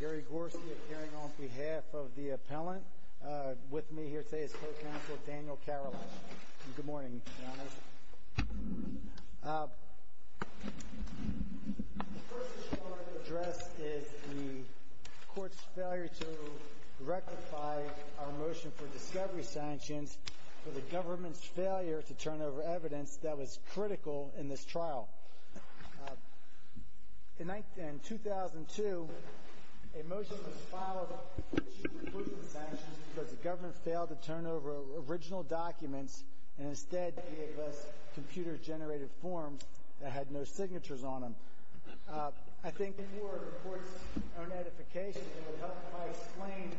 Gary Gorski appearing on behalf of the appellant. With me here today is Co-Counsel Daniel Caroline. Good morning, Your Honors. The first issue I want to address is the Court's failure to rectify our motion for discovery sanctions for the government's failure to turn over evidence that was critical in this trial. In 2002, a motion was filed for two reclusive sanctions because the government failed to turn over original documents and instead gave us computer-generated forms that had no signatures on them. I think before the Court's own edification, it would help if I explained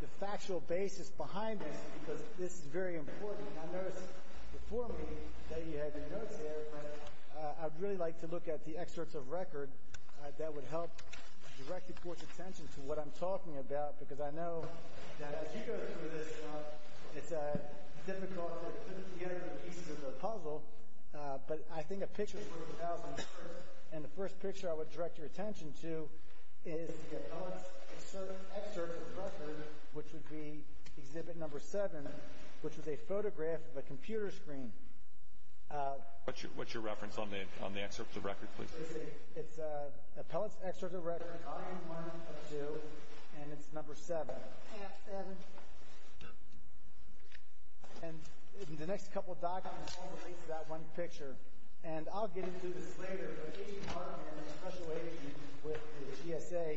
the factual basis behind this because this is very important. And I noticed before me that you had your notes here, but I'd really like to look at the excerpts of record that would help direct the Court's attention to what I'm talking about because I know that as you go through this, it's difficult to put together the pieces of the puzzle, but I think a picture is worth a thousand words. And the first picture I would direct your attention to is the appellant's excerpt of record, which would be Exhibit No. 7, which was a photograph of a computer screen. What's your reference on the excerpt of record, please? It's the appellant's excerpt of record, Item 1 of 2, and it's No. 7. And the next couple of documents all relate to that one picture. And I'll get into this later, but the case department and a special agent with the GSA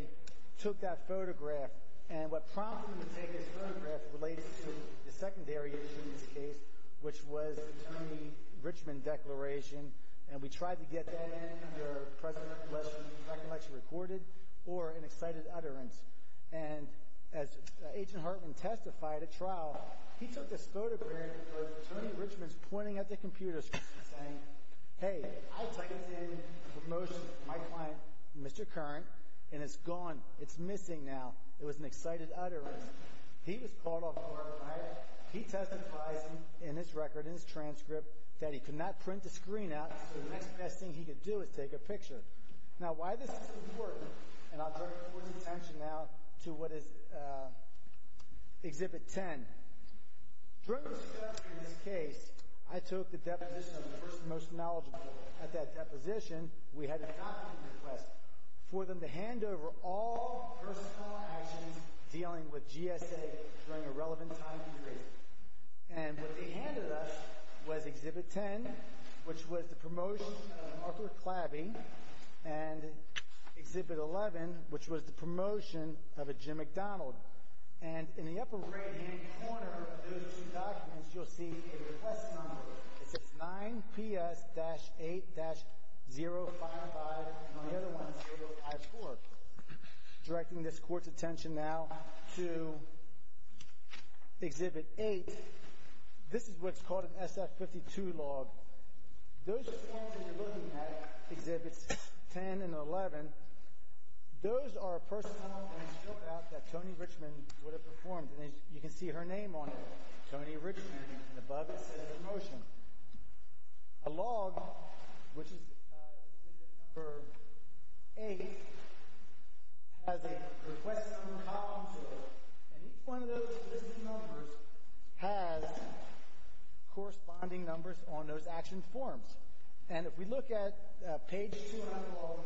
took that photograph, and what prompted them to take this photograph relates to the secondary issue in this case, which was the Tony Richmond Declaration, and we tried to get that in, either President West's recollection recorded or an excited utterance. And as Agent Hartman testified at trial, he took this photograph of Tony Richmond's pointing at the computer screen saying, Hey, I typed in a promotion to my client, Mr. Curran, and it's gone, it's missing now. It was an excited utterance. He was caught off guard, right? He testified in his record, in his transcript, that he could not print the screen out, so the next best thing he could do is take a picture. Now, why this is important, and I'll draw your attention now to what is Exhibit 10. During the setup in this case, I took the deposition of the person most knowledgeable. At that deposition, we had a document request for them to hand over all personal actions dealing with GSA during a relevant time period. And what they handed us was Exhibit 10, which was the promotion of Arthur Klaby, and Exhibit 11, which was the promotion of a Jim McDonald. And in the upper right-hand corner of those two documents, you'll see a request number. It says 9PS-8-055, and on the other one, 054. Directing this Court's attention now to Exhibit 8. This is what's called an SF-52 log. Those forms that you're looking at, Exhibits 10 and 11, those are a personal act that Tony Richman would have performed, and you can see her name on it, Tony Richman, and above it says promotion. A log, which is Exhibit number 8, has a request number column to it, and each one of those existing numbers has corresponding numbers on those action forms. And if we look at page 2 on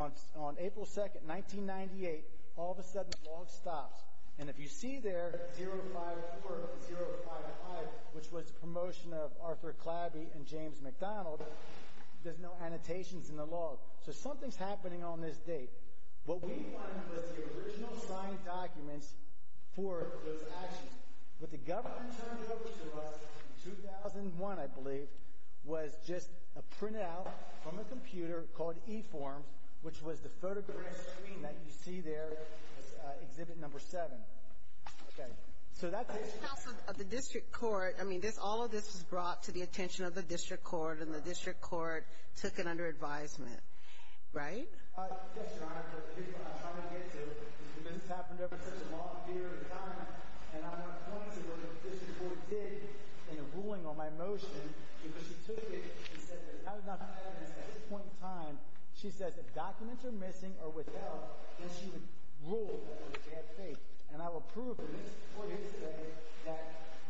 the log, on April 2, 1998, all of a sudden the log stops. And if you see there 054 and 055, which was the promotion of Arthur Klaby and James McDonald, there's no annotations in the log. So something's happening on this date. What we find was the original signed documents for those actions. What the government turned over to us in 2001, I believe, was just a printout from a computer called eForms, which was the photograph that you see there, Exhibit number 7. So that's it. The District Court, I mean, all of this was brought to the attention of the District Court, and the District Court took it under advisement, right? Yes, Your Honor. The reason I'm trying to get to it is because it's happened over such a long period of time, and I want to point to what the District Court did in a ruling on my motion. Because she took it and said there's not enough evidence at this point in time. She says if documents are missing or withheld, then she would rule that it was bad faith. And I will prove to this Court yesterday that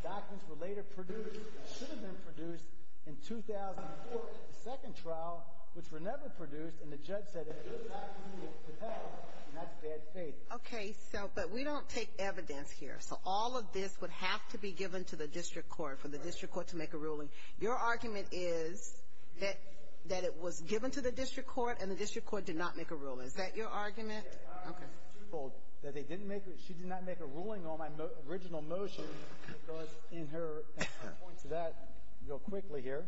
documents were later produced, should have been produced in 2004, the second trial, which were never produced, and the judge said if those documents were withheld, then that's bad faith. Okay, but we don't take evidence here. So all of this would have to be given to the District Court for the District Court to make a ruling. Your argument is that it was given to the District Court and the District Court did not make a ruling. Is that your argument? Okay. Well, she did not make a ruling on my original motion because in her – I'll point to that real quickly here.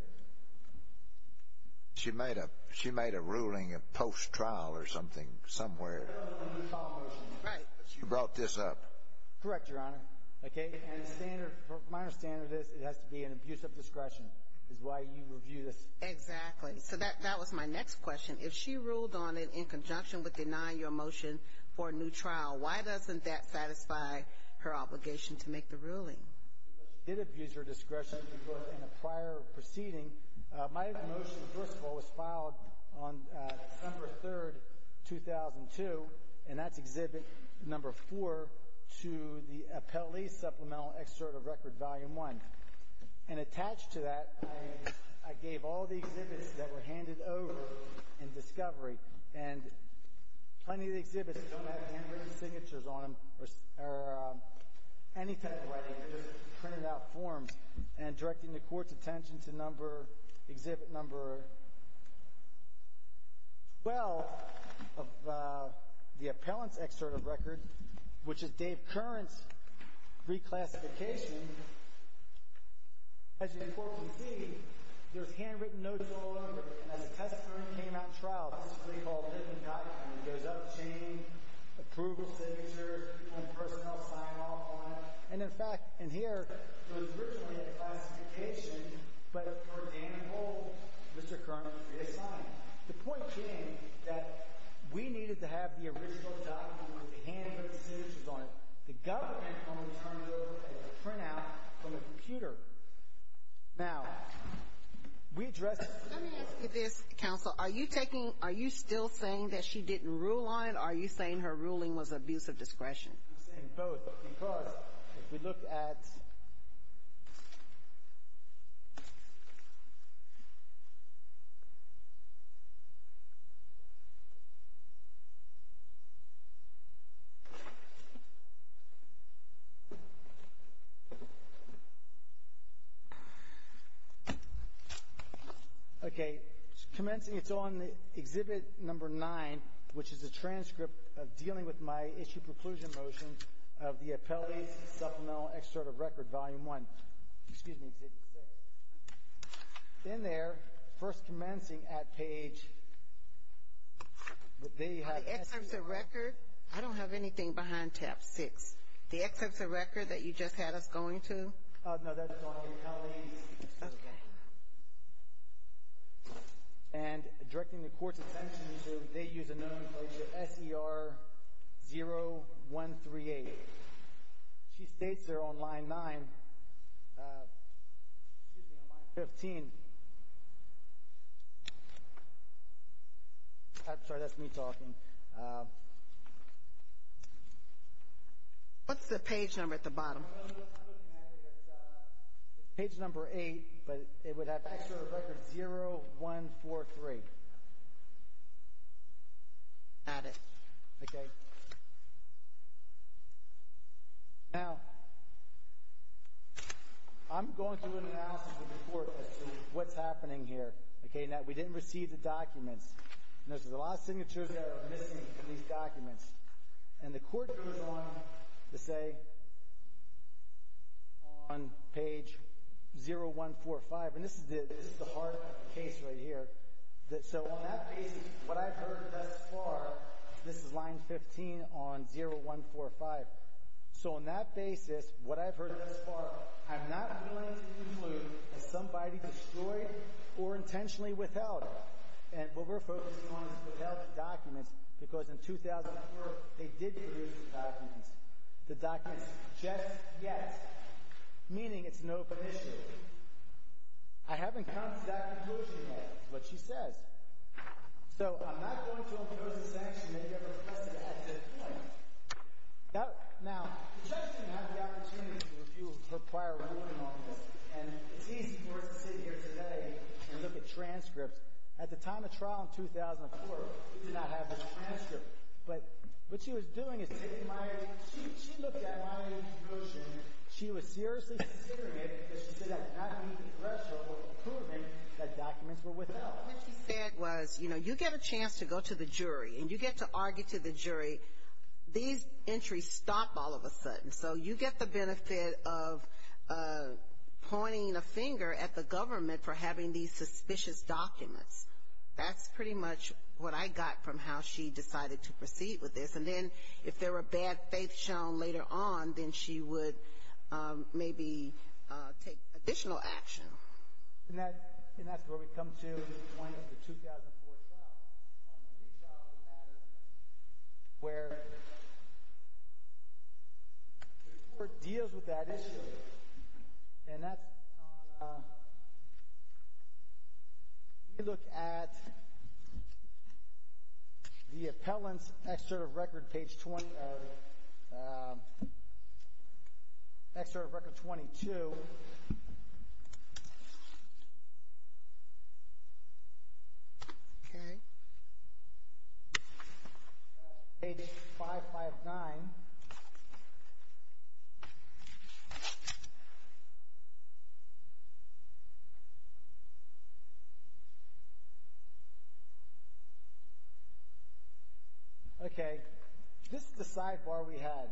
She made a ruling post-trial or something, somewhere. Right. She brought this up. Correct, Your Honor. Okay. And my understanding of this, it has to be an abuse of discretion is why you review this. Exactly. So that was my next question. If she ruled on it in conjunction with denying your motion for a new trial, why doesn't that satisfy her obligation to make the ruling? She did abuse her discretion in a prior proceeding. My motion, first of all, was filed on December 3, 2002, and that's Exhibit No. 4 to the Appellee Supplemental Excerpt of Record, Volume 1. And attached to that, I gave all the exhibits that were handed over in discovery, and plenty of the exhibits don't have handwritten signatures on them or any type of writing. They're just printed out forms. And directing the Court's attention to Exhibit No. 12 of the Appellant's Excerpt of Record, which is Dave Curran's reclassification. As you can see, there's handwritten notes all over it. And as a testimony came out in trial, this is a thing called a written document. It goes up the chain, approval signature, and personnel sign-off on it. And, in fact, in here, it was originally a classification, but for Danny Holt, Mr. Curran, it is signed. The point came that we needed to have the original document with the handwritten signatures on it. The government only turned it over as a printout from a computer. Now, we addressed it. Let me ask you this, Counsel. Are you taking – are you still saying that she didn't rule on it, or are you saying her ruling was abuse of discretion? I'm saying both, because if we look at – Okay. Commencing, it's on Exhibit No. 9, which is a transcript of dealing with my issue preclusion motions of the Appellant's Supplemental Excerpt of Record, Volume 1. Excuse me, Exhibit 6. In there, first commencing at page – The excerpts of record – I don't have anything behind Tab 6. The excerpts of record that you just had us going to? No, that's gone. Okay. And directing the Court's attention to – they use a nomenclature, S.E.R. 0138. She states there on Line 9 – excuse me, on Line 15 – I'm sorry, that's me talking. What's the page number at the bottom? Page No. 8, but it would have Excerpt of Record 0143. Got it. Okay. Now, I'm going to announce the report as to what's happening here. Okay. Now, we didn't receive the documents. Notice there's a lot of signatures that are missing from these documents. And the Court goes on to say on page 0145 – and this is the heart of the case right here. So on that basis, what I've heard thus far – this is Line 15 on 0145. So on that basis, what I've heard thus far, I'm not willing to conclude that somebody destroyed or intentionally withheld it. And what we're focusing on is withheld documents because in 2004, they did produce the documents. The documents just yet, meaning it's an open issue. I haven't come to that conclusion yet, but she says. So I'm not going to impose a sanction that you ever requested at this point. Now, the judge didn't have the opportunity to review her prior ruling on this, and it's easy for us to sit here today and look at transcripts. At the time of trial in 2004, we did not have this transcript. But what she was doing is taking my – she looked at my motion. She was seriously considering it because she said that did not meet the threshold that documents were withheld. What she said was, you know, you get a chance to go to the jury, and you get to argue to the jury. These entries stop all of a sudden. So you get the benefit of pointing a finger at the government for having these suspicious documents. That's pretty much what I got from how she decided to proceed with this. And then if there were bad faith shown later on, then she would maybe take additional action. And that's where we come to the point of the 2004 trial on the re-trial matter where the court deals with that issue. And that's on – if you look at the appellant's excerpt of record, page – excerpt of record 22. Okay. Page 559. Okay. This is the sidebar we had.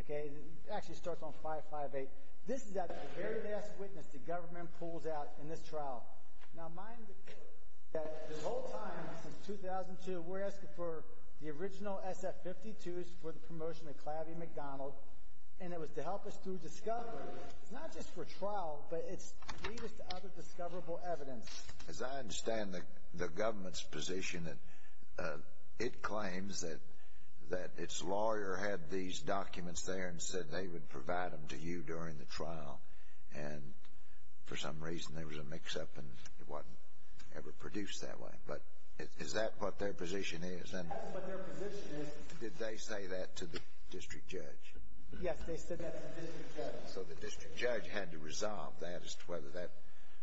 Okay. It actually starts on 558. This is at the very last witness the government pulls out in this trial. Now, mind that this whole time, since 2002, we're asking for the original SF-52s for the promotion of Clavie McDonald. And it was to help us through discovery. It's not just for trial, but it's to lead us to other discoverable evidence. As I understand the government's position, it claims that its lawyer had these documents there and said they would provide them to you during the trial. And for some reason, there was a mix-up, and it wasn't ever produced that way. But is that what their position is? That's what their position is. Did they say that to the district judge? Yes, they said that to the district judge. So the district judge had to resolve that as to whether that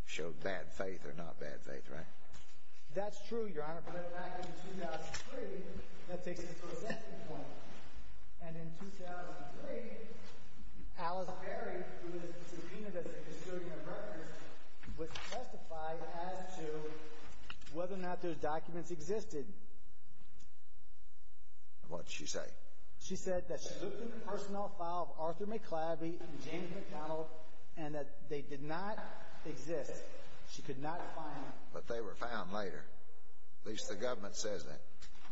showed bad faith or not bad faith, right? That's true, Your Honor. But back in 2003, that takes us to a second point. And in 2003, Alice Berry, who is the subpoena that's in custodian of records, was testified as to whether or not those documents existed. What did she say? She said that she looked in the personnel file of Arthur McClavie and James McDonald and that they did not exist. She could not find them. But they were found later. At least the government says that.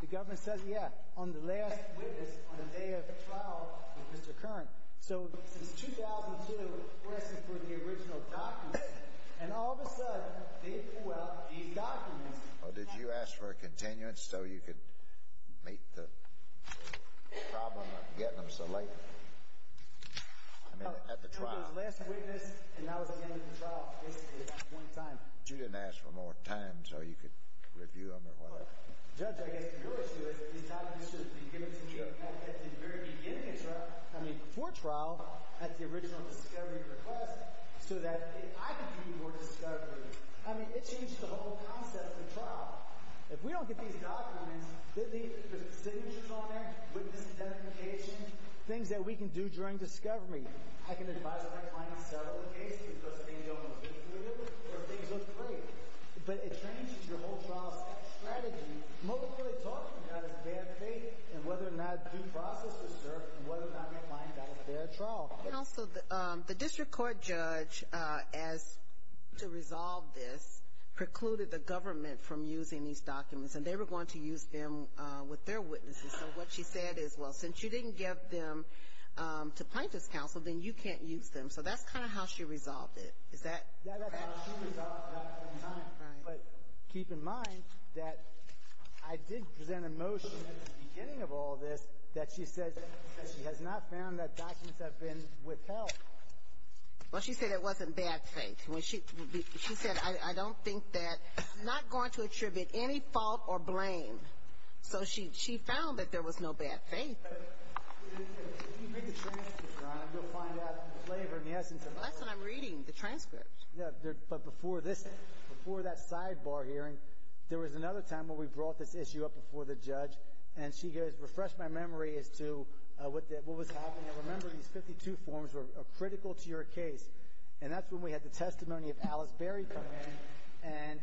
The government says, yeah, on the last witness on the day of the trial with Mr. Curran. So since 2002, we're asking for the original documents, and all of a sudden, they pull out these documents. Did you ask for a continuance so you could meet the problem of getting them so late? I mean, at the trial. It was his last witness, and that was at the end of the trial. This is one time. But you didn't ask for more time so you could review them or whatever? Judge, I guess your issue is these documents should have been given to me at the very beginning of trial. I mean, before trial, at the original discovery request, so that I could do more discovery. I mean, it changed the whole concept of trial. If we don't get these documents, there's signatures on there, witness identification, things that we can do during discovery. I can advise a client to settle the case because things don't look good for them, or things look great. But it changes your whole trial strategy, most importantly talking about his bad faith and whether or not due process was served and whether or not that client got a fair trial. And also, the district court judge, to resolve this, precluded the government from using these documents, and they were going to use them with their witnesses. So what she said is, well, since you didn't give them to plaintiff's counsel, then you can't use them. So that's kind of how she resolved it. Is that correct? Yes, that's how she resolved it. But keep in mind that I did present a motion at the beginning of all this that she says that she has not found that documents have been withheld. Well, she said it wasn't bad faith. She said, I don't think that it's not going to attribute any fault or blame. So she found that there was no bad faith. If you read the transcripts, Donna, you'll find out the flavor and the essence of it. Well, that's what I'm reading, the transcripts. Yeah, but before that sidebar hearing, there was another time where we brought this issue up before the judge, and she goes, refresh my memory as to what was happening. Remember, these 52 forms are critical to your case. And that's when we had the testimony of Alice Berry come in,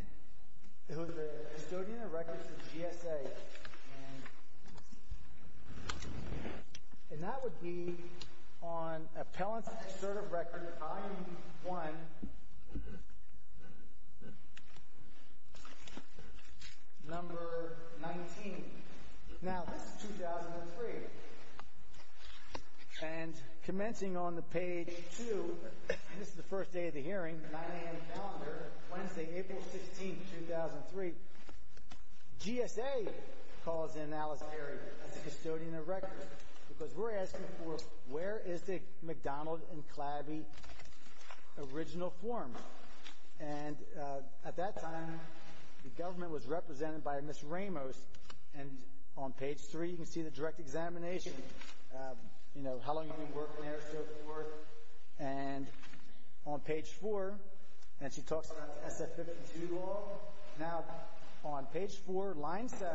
who is a custodian of records for GSA. And that would be on appellant's assertive record IE1, number 19. Now, this is 2003. And commencing on the page 2, this is the first day of the hearing, 9 a.m. calendar, Wednesday, April 16, 2003, GSA calls in Alice Berry as a custodian of records because we're asking for where is the McDonald and Claby original form. And at that time, the government was represented by Ms. Ramos. And on page 3, you can see the direct examination, you know, how long you've been working there and so forth. And on page 4, and she talks about the SF-52 law. Now, on page 4, line 7,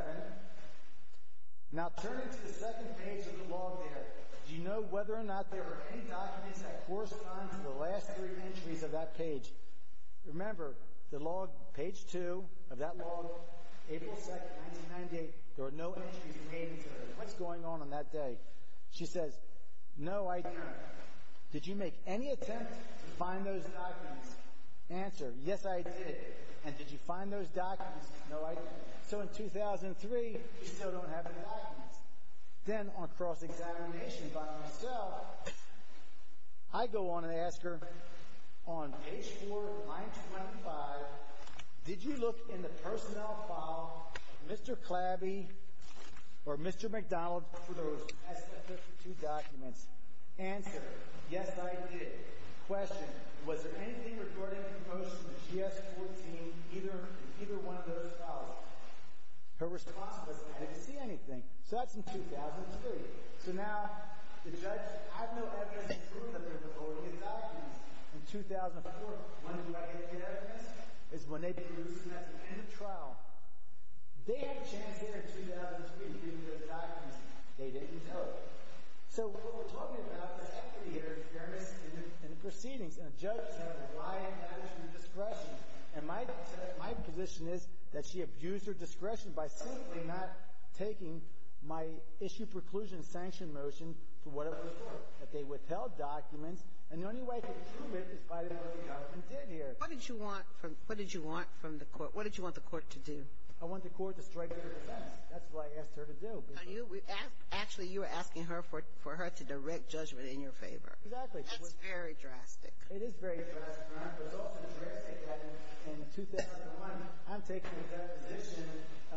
now turn to the second page of the log there. Do you know whether or not there were any documents that correspond to the last three entries of that page? Remember, the log, page 2 of that log, April 2, 1998, there were no entries made until then. What's going on on that day? She says, no idea. Did you make any attempt to find those documents? Answer, yes, I did. And did you find those documents? No idea. So in 2003, we still don't have any documents. Then on cross-examination by myself, I go on and ask her, on page 4, line 25, did you look in the personnel file of Mr. Claby or Mr. McDonald for those SF-52 documents? Answer, yes, I did. Question, was there anything regarding the promotion of the GS-14 in either one of those files? Her response was, I didn't see anything. So that's in 2003. So now, the judge, I have no evidence to prove that there were any documents in 2004. When do I get to get evidence? It's when they produce the message at the end of trial. They had a chance here in 2003 to give me those documents. They didn't do it. So what we're talking about is equity here in fairness in the proceedings. And a judge has a right to action and discretion. And my position is that she abused her discretion by simply not taking my issue preclusion sanction motion for what it was for, that they withheld documents. And the only way to prove it is by the way the government did here. What did you want from the court? What did you want the court to do? I want the court to strike to the defense. That's what I asked her to do. Actually, you were asking her for her to direct judgment in your favor. Exactly. That's very drastic. It is very drastic. There's also a drastic thing. In 2001, I'm taking the position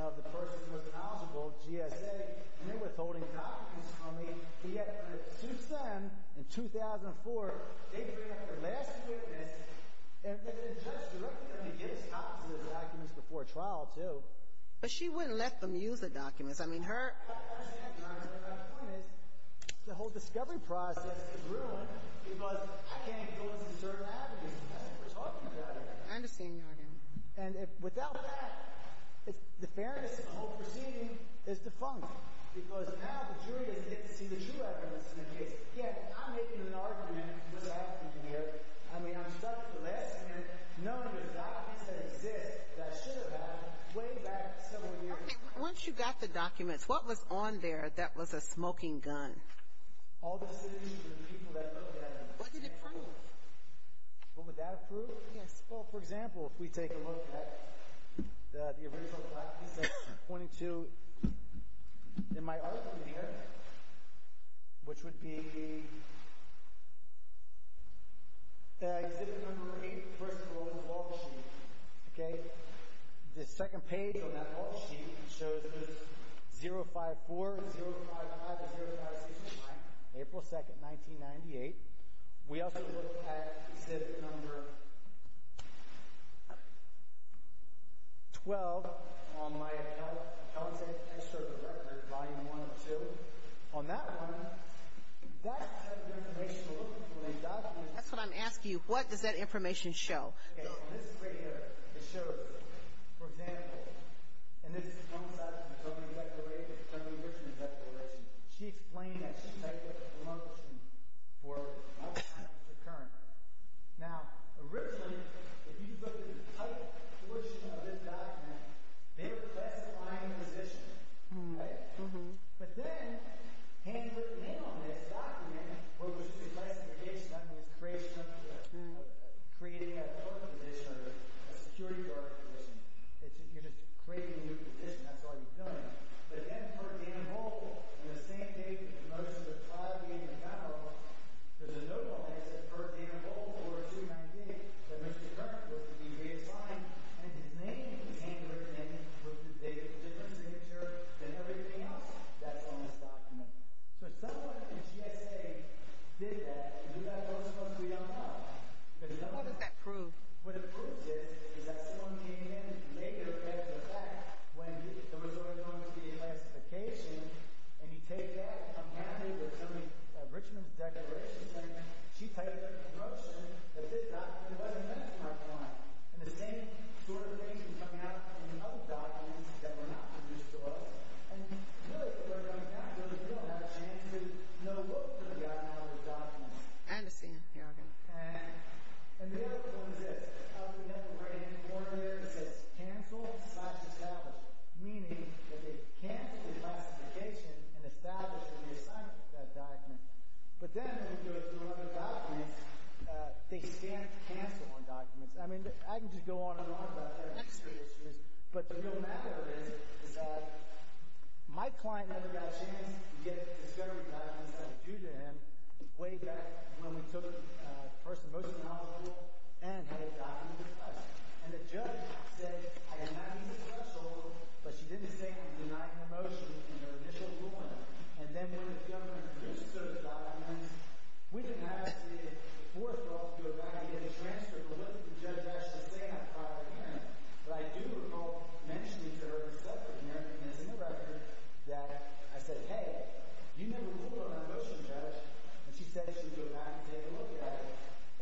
of the person who was eligible, GSA, and they're withholding documents from me. And yet, when it suits them, in 2004, they bring up their last witness, and the judge directed them to give us copies of the documents before trial, too. But she wouldn't let them use the documents. I mean, her— I understand, Your Honor. But my point is the whole discovery process is ruined because I can't go into certain avenues that you were talking about. I understand, Your Honor. And without that, the fairness of the whole proceeding is defunct because now the jury doesn't get to see the true evidence in the case. Again, I'm making an argument, Ms. Atkinson here. I mean, I'm stuck for less than numbers of copies that exist that should have been way back several years ago. Okay. Once you got the documents, what was on there that was a smoking gun? All the citizens and people that looked at it. What did it prove? What would that prove? Yes. Well, for example, if we take a look at the original copies that's pointed to in my article here, which would be Exhibit No. 8, first of all, on the wall sheet. Okay? The second page on that wall sheet shows there's 054, 055, and 0569, April 2, 1998. We also look at Exhibit No. 12 on my account. I show the record, Volume 1 and 2. On that one, that's the information we're looking for. That's what I'm asking you. What does that information show? Okay. This right here, it shows, for example, and this comes out of the government declaration, she explained that she typed up a promotion for Alzheimer's recurrence. Now, originally, if you look at the title portion of this document, they were classifying the physician. Right? Mm-hmm. But then, when you look at the name on this document, what was the classification on this? It's creating a health position or a security guard position. You're just creating a new position. That's all you're doing. But then, for example, on the same page, you'll notice there's a file being compiled. There's a note on it that says, for example, for 2019, that Mr. Kern was to be reassigned, and his name is handwritten in with the date and signature and everything else. That's on this document. So if someone in GSA did that, do you know what's supposed to be on that? What does that prove? Well, the proof is, is that someone came in and made it a matter of fact when there was going to be a classification, and you take that and come down here, there's some of Richman's declarations, and she typed a commotion that this document wasn't meant to mark one. And the same sort of thing can come out in other documents that were not produced to us. And really, from where we're going now, we really don't have a chance to know what was going to be on all the documents. I understand. Okay. And the other one is this. We have the writing on the corner there that says, cancel slash establish, meaning that they canceled the classification and established the reassignment of that document. But then when we go through other documents, they can't cancel on documents. I mean, I can just go on and on about other history issues, but the real matter is that my client never got a chance to get a discovery document way back when we took the first motion out of the law and had it documented in the press. And the judge said, I did not use the press order, but she didn't state and deny the motion in her initial ruling. And then when the government produced those documents, we didn't have to go back and get a transcript of what the judge actually said. But I do recall mentioning to her, and this is in the record, that I said, I said, hey, you never ruled on that motion, judge. And she said she would go back and take a look at it.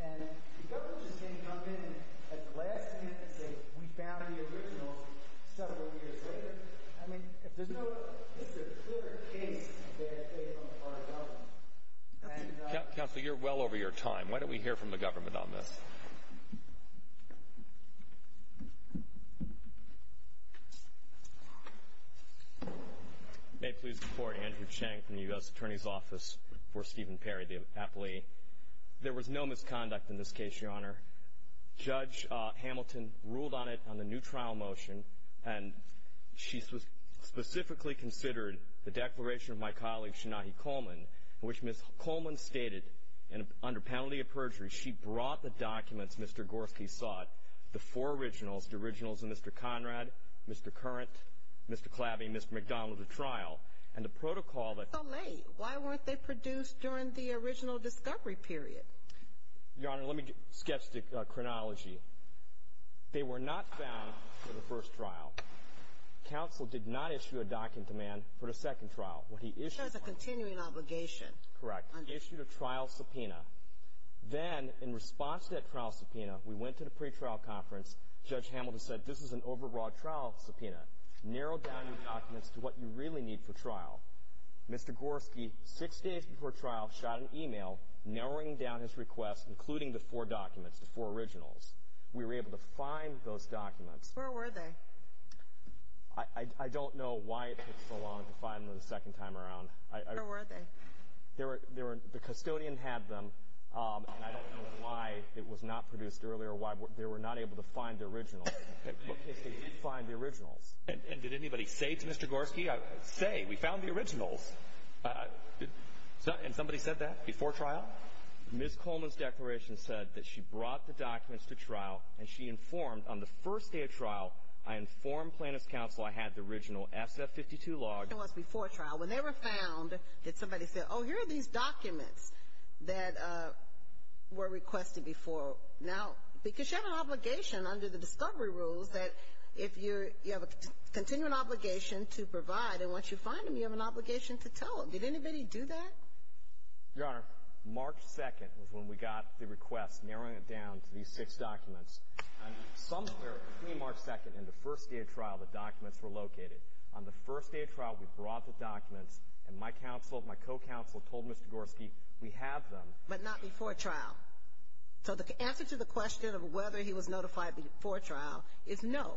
And the government just didn't come in and at the last instance say we found the original several years later. I mean, there's no clear case of bad faith on the part of government. Counsel, you're well over your time. Why don't we hear from the government on this? May it please the Court. Andrew Chang from the U.S. Attorney's Office for Stephen Perry, the appellee. There was no misconduct in this case, Your Honor. Judge Hamilton ruled on it on the new trial motion, and she specifically considered the declaration of my colleague, Shanahi Coleman, in which Ms. Coleman stated under penalty of perjury she brought the documents Mr. Gorski sought, the four originals, the originals of Mr. Conrad, Mr. Currant, Mr. Clabby, and Mr. McDonald to trial, and the protocol that So late. Why weren't they produced during the original discovery period? Your Honor, let me sketch the chronology. They were not found for the first trial. Counsel did not issue a document to man for the second trial. There was a continuing obligation. Correct. Issued a trial subpoena. Then, in response to that trial subpoena, we went to the pretrial conference. Judge Hamilton said this is an overbroad trial subpoena. Narrow down your documents to what you really need for trial. Mr. Gorski, six days before trial, shot an e-mail narrowing down his request, including the four documents, the four originals. We were able to find those documents. Where were they? I don't know why it took so long to find them the second time around. Where were they? The custodian had them, and I don't know why it was not produced earlier, or why they were not able to find the originals. What case did you find the originals? And did anybody say to Mr. Gorski, say, we found the originals? And somebody said that before trial? Ms. Coleman's declaration said that she brought the documents to trial, and she informed on the first day of trial, I informed plaintiff's counsel I had the original SF-52 log. What happened to us before trial? When they were found, did somebody say, oh, here are these documents that were requested before? Now, because you have an obligation under the discovery rules that if you have a continuing obligation to provide, and once you find them, you have an obligation to tell them. Did anybody do that? Your Honor, March 2nd was when we got the request, narrowing it down to these six documents. On some period between March 2nd and the first day of trial, the documents were located. On the first day of trial, we brought the documents, and my counsel, my co-counsel, told Mr. Gorski, we have them. But not before trial. So the answer to the question of whether he was notified before trial is no.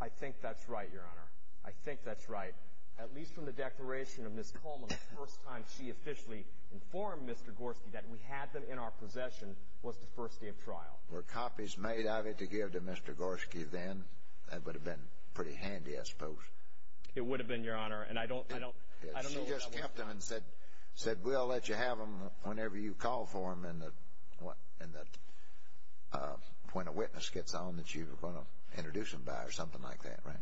I think that's right, Your Honor. I think that's right. At least from the declaration of Ms. Coleman, the first time she officially informed Mr. Gorski that we had them in our possession was the first day of trial. Now, were copies made of it to give to Mr. Gorski then, that would have been pretty handy, I suppose. It would have been, Your Honor, and I don't know what I would have done. She just kept them and said, we'll let you have them whenever you call for them, and when a witness gets on that you're going to introduce them by or something like that, right?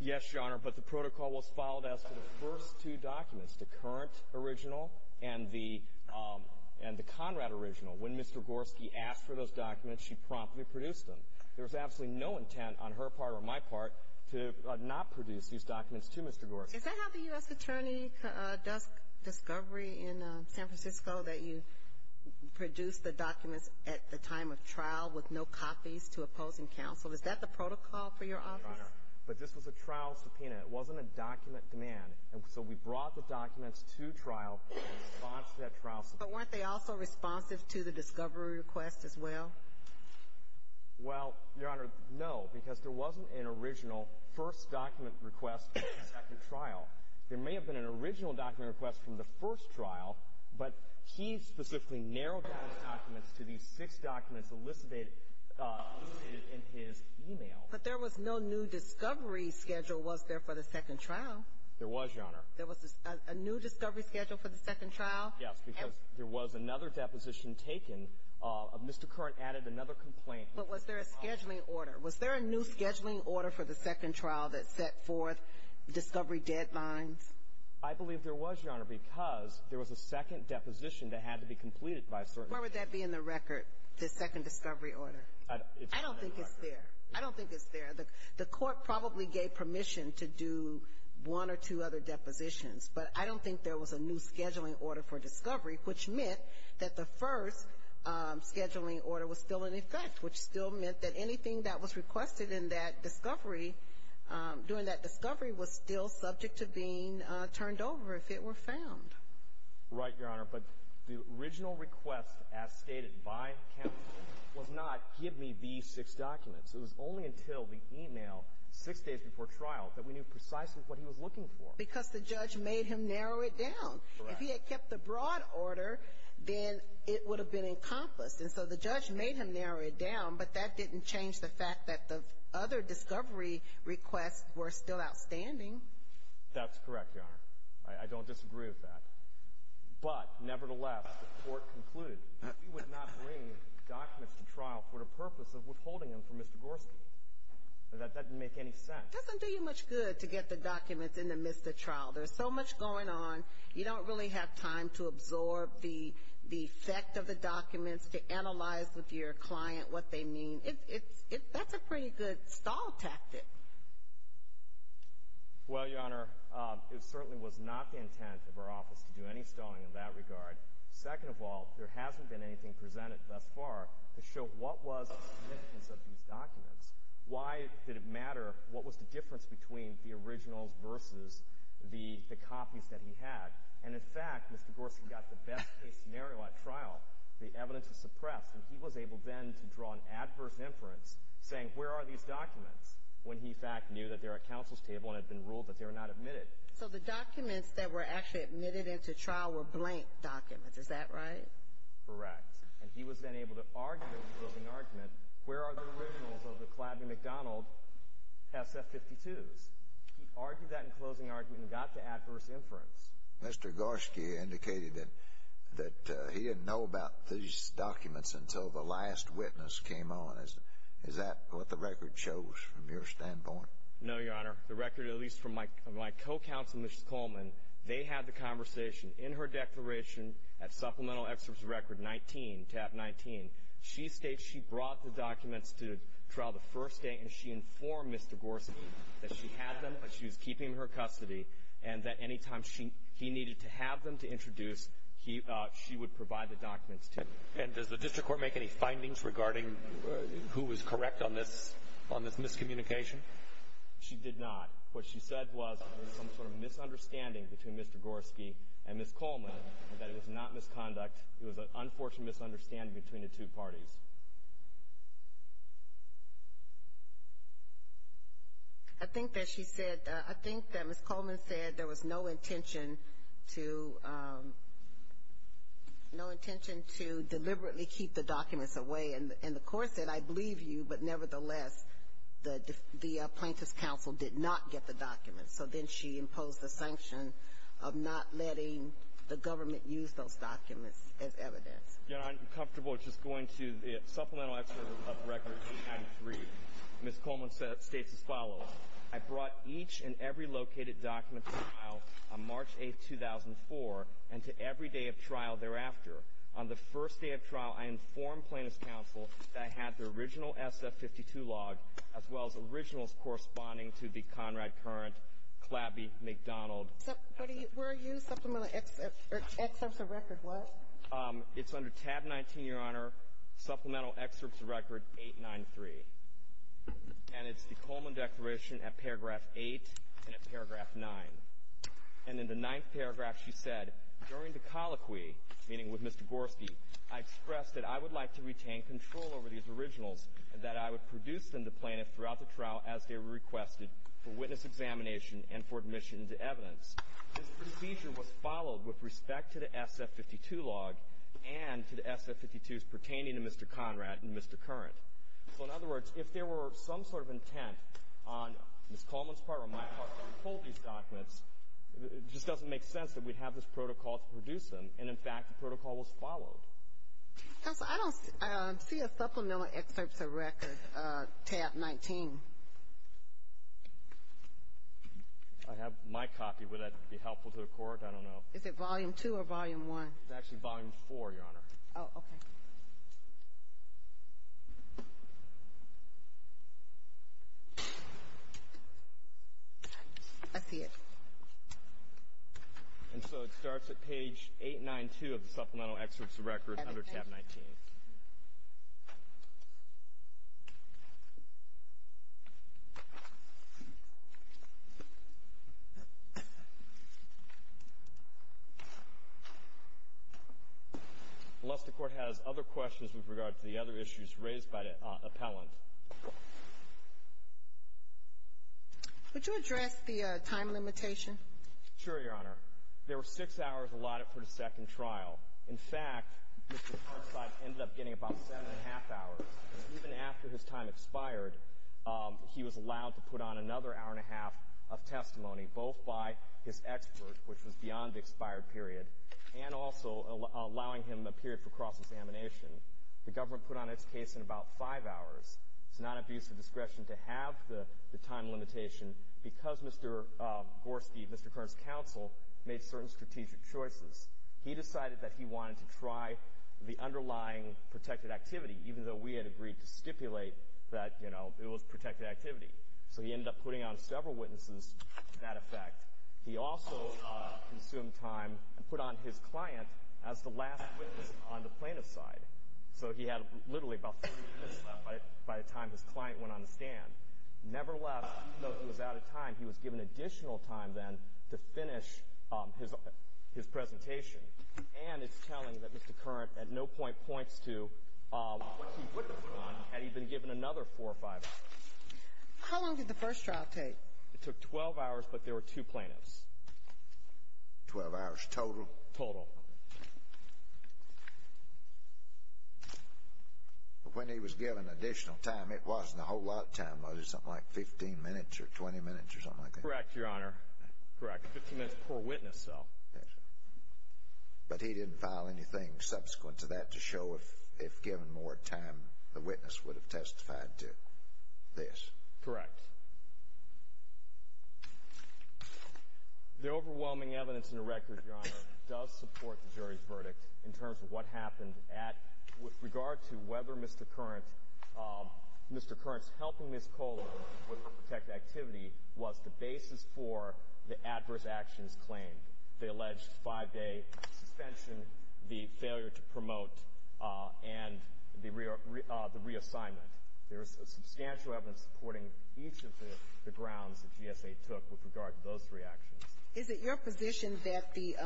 Yes, Your Honor, but the protocol was followed as to the first two documents, the current original and the Conrad original. When Mr. Gorski asked for those documents, she promptly produced them. There was absolutely no intent on her part or my part to not produce these documents to Mr. Gorski. Is that how the U.S. Attorney does discovery in San Francisco, that you produce the documents at the time of trial with no copies to opposing counsel? Is that the protocol for your office? Your Honor, but this was a trial subpoena. It wasn't a document demand. And so we brought the documents to trial in response to that trial subpoena. But weren't they also responsive to the discovery request as well? Well, Your Honor, no, because there wasn't an original first document request from the second trial. There may have been an original document request from the first trial, but he specifically narrowed down the documents to these six documents elicited in his e-mail. But there was no new discovery schedule, was there, for the second trial? There was, Your Honor. There was a new discovery schedule for the second trial? Yes, because there was another deposition taken. Mr. Curran added another complaint. But was there a scheduling order? Was there a new scheduling order for the second trial that set forth discovery deadlines? I believe there was, Your Honor, because there was a second deposition that had to be completed by a certain time. Where would that be in the record, the second discovery order? I don't think it's there. I don't think it's there. The court probably gave permission to do one or two other depositions, but I don't think there was a new scheduling order for discovery, which meant that the first scheduling order was still in effect, which still meant that anything that was requested in that discovery, during that discovery, was still subject to being turned over if it were found. Right, Your Honor. But the original request, as stated by counsel, was not give me these six documents. It was only until the e-mail six days before trial that we knew precisely what he was looking for. Because the judge made him narrow it down. Correct. If he had kept the broad order, then it would have been encompassed. And so the judge made him narrow it down, but that didn't change the fact that the other discovery requests were still outstanding. That's correct, Your Honor. I don't disagree with that. But, nevertheless, the court concluded that we would not bring documents to trial for the purpose of withholding them from Mr. Gorski. That doesn't make any sense. It doesn't do you much good to get the documents in the midst of trial. There's so much going on, you don't really have time to absorb the effect of the documents, to analyze with your client what they mean. That's a pretty good stall tactic. Well, Your Honor, it certainly was not the intent of our office to do any stalling in that regard. Second of all, there hasn't been anything presented thus far to show what was the significance of these documents. Why did it matter? What was the difference between the originals versus the copies that he had? And, in fact, Mr. Gorski got the best-case scenario at trial. The evidence was suppressed. And he was able then to draw an adverse inference, saying, where are these documents, when he, in fact, knew that they were at counsel's table and had been ruled that they were not admitted. So the documents that were actually admitted into trial were blank documents. Is that right? Correct. And he was then able to argue in the closing argument, where are the originals of the Kladney McDonald SF-52s? He argued that in the closing argument and got the adverse inference. Mr. Gorski indicated that he didn't know about these documents until the last witness came on. Is that what the record shows from your standpoint? No, Your Honor. The record, at least from my co-counsel, Mrs. Coleman, they had the conversation in her declaration at supplemental excerpts record 19, tab 19. She states she brought the documents to trial the first day, and she informed Mr. Gorski that she had them, that she was keeping them in her custody, and that any time he needed to have them to introduce, she would provide the documents to him. And does the district court make any findings regarding who was correct on this miscommunication? She did not. What she said was there was some sort of misunderstanding between Mr. Gorski and Mrs. Coleman, that it was not misconduct, it was an unfortunate misunderstanding between the two parties. I think that she said, I think that Mrs. Coleman said there was no intention to deliberately keep the documents away. And the court said, I believe you, but nevertheless, the plaintiff's counsel did not get the documents. So then she imposed the sanction of not letting the government use those documents as evidence. Your Honor, I'm comfortable just going to the supplemental excerpt of record 93. Mrs. Coleman states as follows. I brought each and every located document to trial on March 8, 2004, and to every day of trial thereafter. On the first day of trial, I informed plaintiff's counsel that I had the original SF-52 log, as well as originals corresponding to the Conrad Currant, Clabbie, McDonald. Were you supplemental excerpts of record what? It's under tab 19, Your Honor, supplemental excerpts of record 893. And it's the Coleman declaration at paragraph 8 and at paragraph 9. And in the ninth paragraph, she said, during the colloquy, meaning with Mr. Gorski, I expressed that I would like to retain control over these originals and that I would produce them to plaintiff throughout the trial as they were requested for witness examination and for admission into evidence. This procedure was followed with respect to the SF-52 log and to the SF-52s pertaining to Mr. Conrad and Mr. Currant. So, in other words, if there were some sort of intent on Ms. Coleman's part or my part to withhold these documents, it just doesn't make sense that we'd have this protocol to produce them. And, in fact, the protocol was followed. Counsel, I don't see a supplemental excerpts of record tab 19. I have my copy. Would that be helpful to the Court? I don't know. Is it volume 2 or volume 1? It's actually volume 4, Your Honor. Oh, okay. I see it. And so it starts at page 892 of the supplemental excerpts of record under tab 19. Unless the Court has other questions with regard to the other issues raised by the appellant. Would you address the time limitation? Sure, Your Honor. There were six hours allotted for the second trial. In fact, Mr. Farside ended up getting about seven and a half hours. Even after his time expired, he was allowed to put on another hour and a half of testimony, both by his expert, which was beyond the expired period, and also allowing him a period for cross-examination. The government put on its case in about five hours. It's not abuse of discretion to have the time limitation because Mr. Gorski, Mr. Kern's counsel, made certain strategic choices. He decided that he wanted to try the underlying protected activity, even though we had agreed to stipulate that, you know, it was protected activity. So he ended up putting on several witnesses to that effect. He also consumed time and put on his client as the last witness on the plaintiff's side. So he had literally about three minutes left by the time his client went on the stand. Nevertheless, even though he was out of time, he was given additional time then to finish his presentation. And it's telling that Mr. Kern at no point points to what he wouldn't have done had he been given another four or five hours. How long did the first trial take? It took 12 hours, but there were two plaintiffs. Twelve hours total? Total. But when he was given additional time, it wasn't a whole lot of time. Was it something like 15 minutes or 20 minutes or something like that? Correct, Your Honor. Correct. Fifteen minutes per witness, though. Yes. But he didn't file anything subsequent to that to show if given more time, the witness would have testified to this? Correct. The overwhelming evidence in the record, Your Honor, does support the jury's verdict in terms of what happened. With regard to whether Mr. Kern's helping Ms. Kohler with a protected activity was the basis for the adverse actions claimed. They alleged five-day suspension, the failure to promote, and the reassignment. There is substantial evidence supporting each of the grounds that GSA took with regard to those three actions. Is it your position that the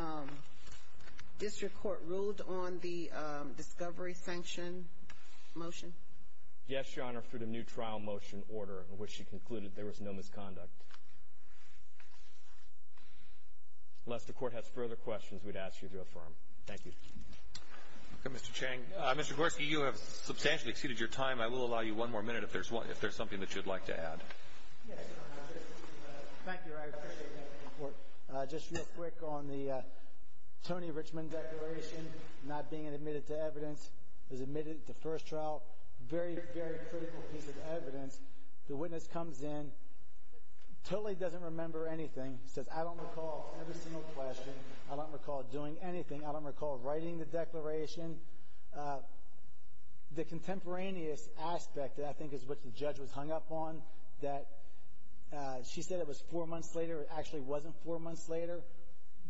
district court ruled on the discovery sanction motion? Yes, Your Honor, for the new trial motion order in which she concluded there was no misconduct. Unless the court has further questions, we'd ask you to affirm. Thank you. Okay, Mr. Chang. Mr. Gorski, you have substantially exceeded your time. I will allow you one more minute if there's something that you'd like to add. Yes, Your Honor. Thank you. I appreciate that. Just real quick on the Tony Richmond declaration, not being admitted to evidence, was admitted to first trial. Very, very critical piece of evidence. The witness comes in, totally doesn't remember anything. Says, I don't recall every single question. I don't recall doing anything. I don't recall writing the declaration. The contemporaneous aspect, I think, is what the judge was hung up on, that she said it was four months later. It actually wasn't four months later.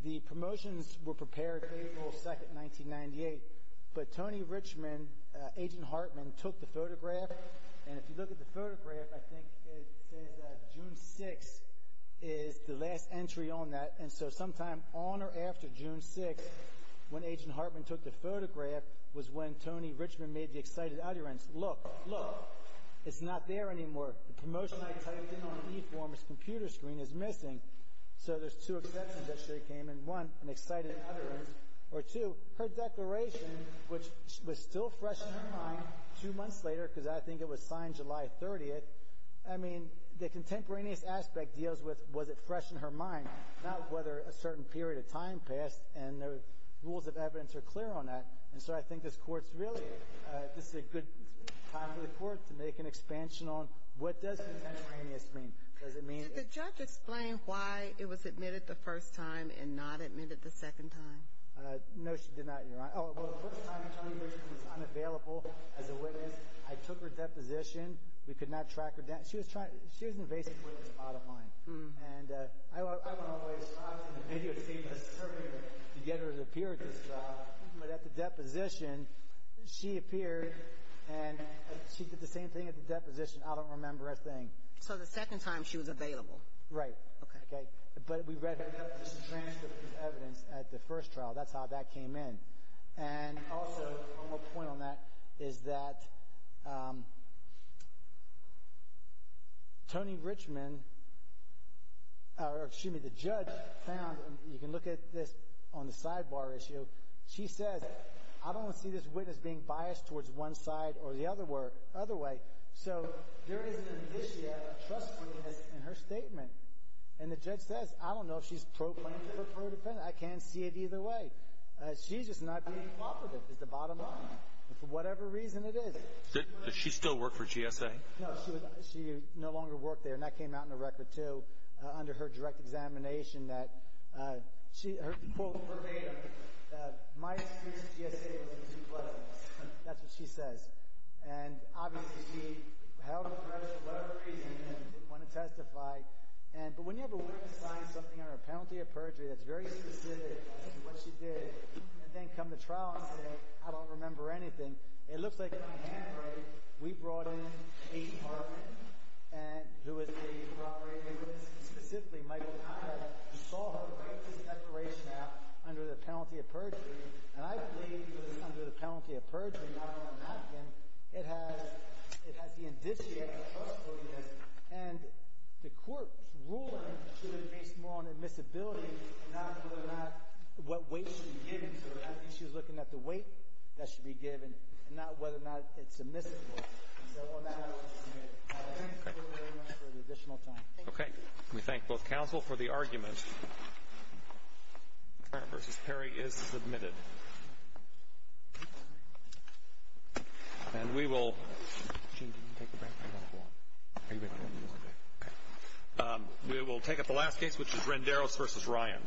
The promotions were prepared April 2nd, 1998. But Tony Richmond, Agent Hartman, took the photograph. And if you look at the photograph, I think it says that June 6th is the last entry on that. And so sometime on or after June 6th, when Agent Hartman took the photograph, was when Tony Richmond made the excited utterance, Look, look, it's not there anymore. The promotion I typed in on e-form's computer screen is missing. So there's two exceptions that she came in. One, an excited utterance. Or two, her declaration, which was still fresh in her mind two months later, because I think it was signed July 30th. I mean, the contemporaneous aspect deals with was it fresh in her mind, not whether a certain period of time passed. And the rules of evidence are clear on that. And so I think this Court's really, this is a good time for the Court to make an expansion on what does contemporaneous mean. Does it mean? Did the judge explain why it was admitted the first time and not admitted the second time? No, she did not, Your Honor. Oh, well, the first time, Tony Richmond was unavailable as a witness. I took her deposition. We could not track her down. She was trying, she was invasive with this bottom line. And I went all the way to the video scene to get her to appear at this trial. But at the deposition, she appeared, and she did the same thing at the deposition. I don't remember a thing. So the second time she was available. Right. Okay. But we read her deposition transcript as evidence at the first trial. That's how that came in. And also, one more point on that is that Tony Richmond, or excuse me, the judge found, you can look at this on the sidebar issue. She says, I don't see this witness being biased towards one side or the other way. So there is an indicia of trustworthiness in her statement. And the judge says, I don't know if she's pro plaintiff or pro defendant. I can't see it either way. She's just not being cooperative is the bottom line. For whatever reason it is. Does she still work for GSA? No, she no longer worked there. And that came out in the record, too, under her direct examination that she, quote, My experience with GSA was that she was too pleasant. That's what she says. And obviously she held a grudge for whatever reason and didn't want to testify. But when you have a witness sign something under a penalty of perjury that's very specific to what she did, and then come to trial and say, I don't remember anything, it looks like in my handwriting we brought in Kate Parkin, who is the property agent. Specifically, Michael Conrad. We saw her write this declaration out under the penalty of perjury. And I believe it was under the penalty of perjury, not on a napkin. It has the indicia of trustworthiness. And the court's ruling should have been based more on admissibility and not whether or not what weight should be given to her. I think she was looking at the weight that should be given and not whether or not it's admissible. And so on that, I won't submit it. Thank you very much for the additional time. Thank you. Okay. We thank both counsel for the argument. Farrah v. Perry is submitted. And we will take up the last case, which is Renderos v. Ryan.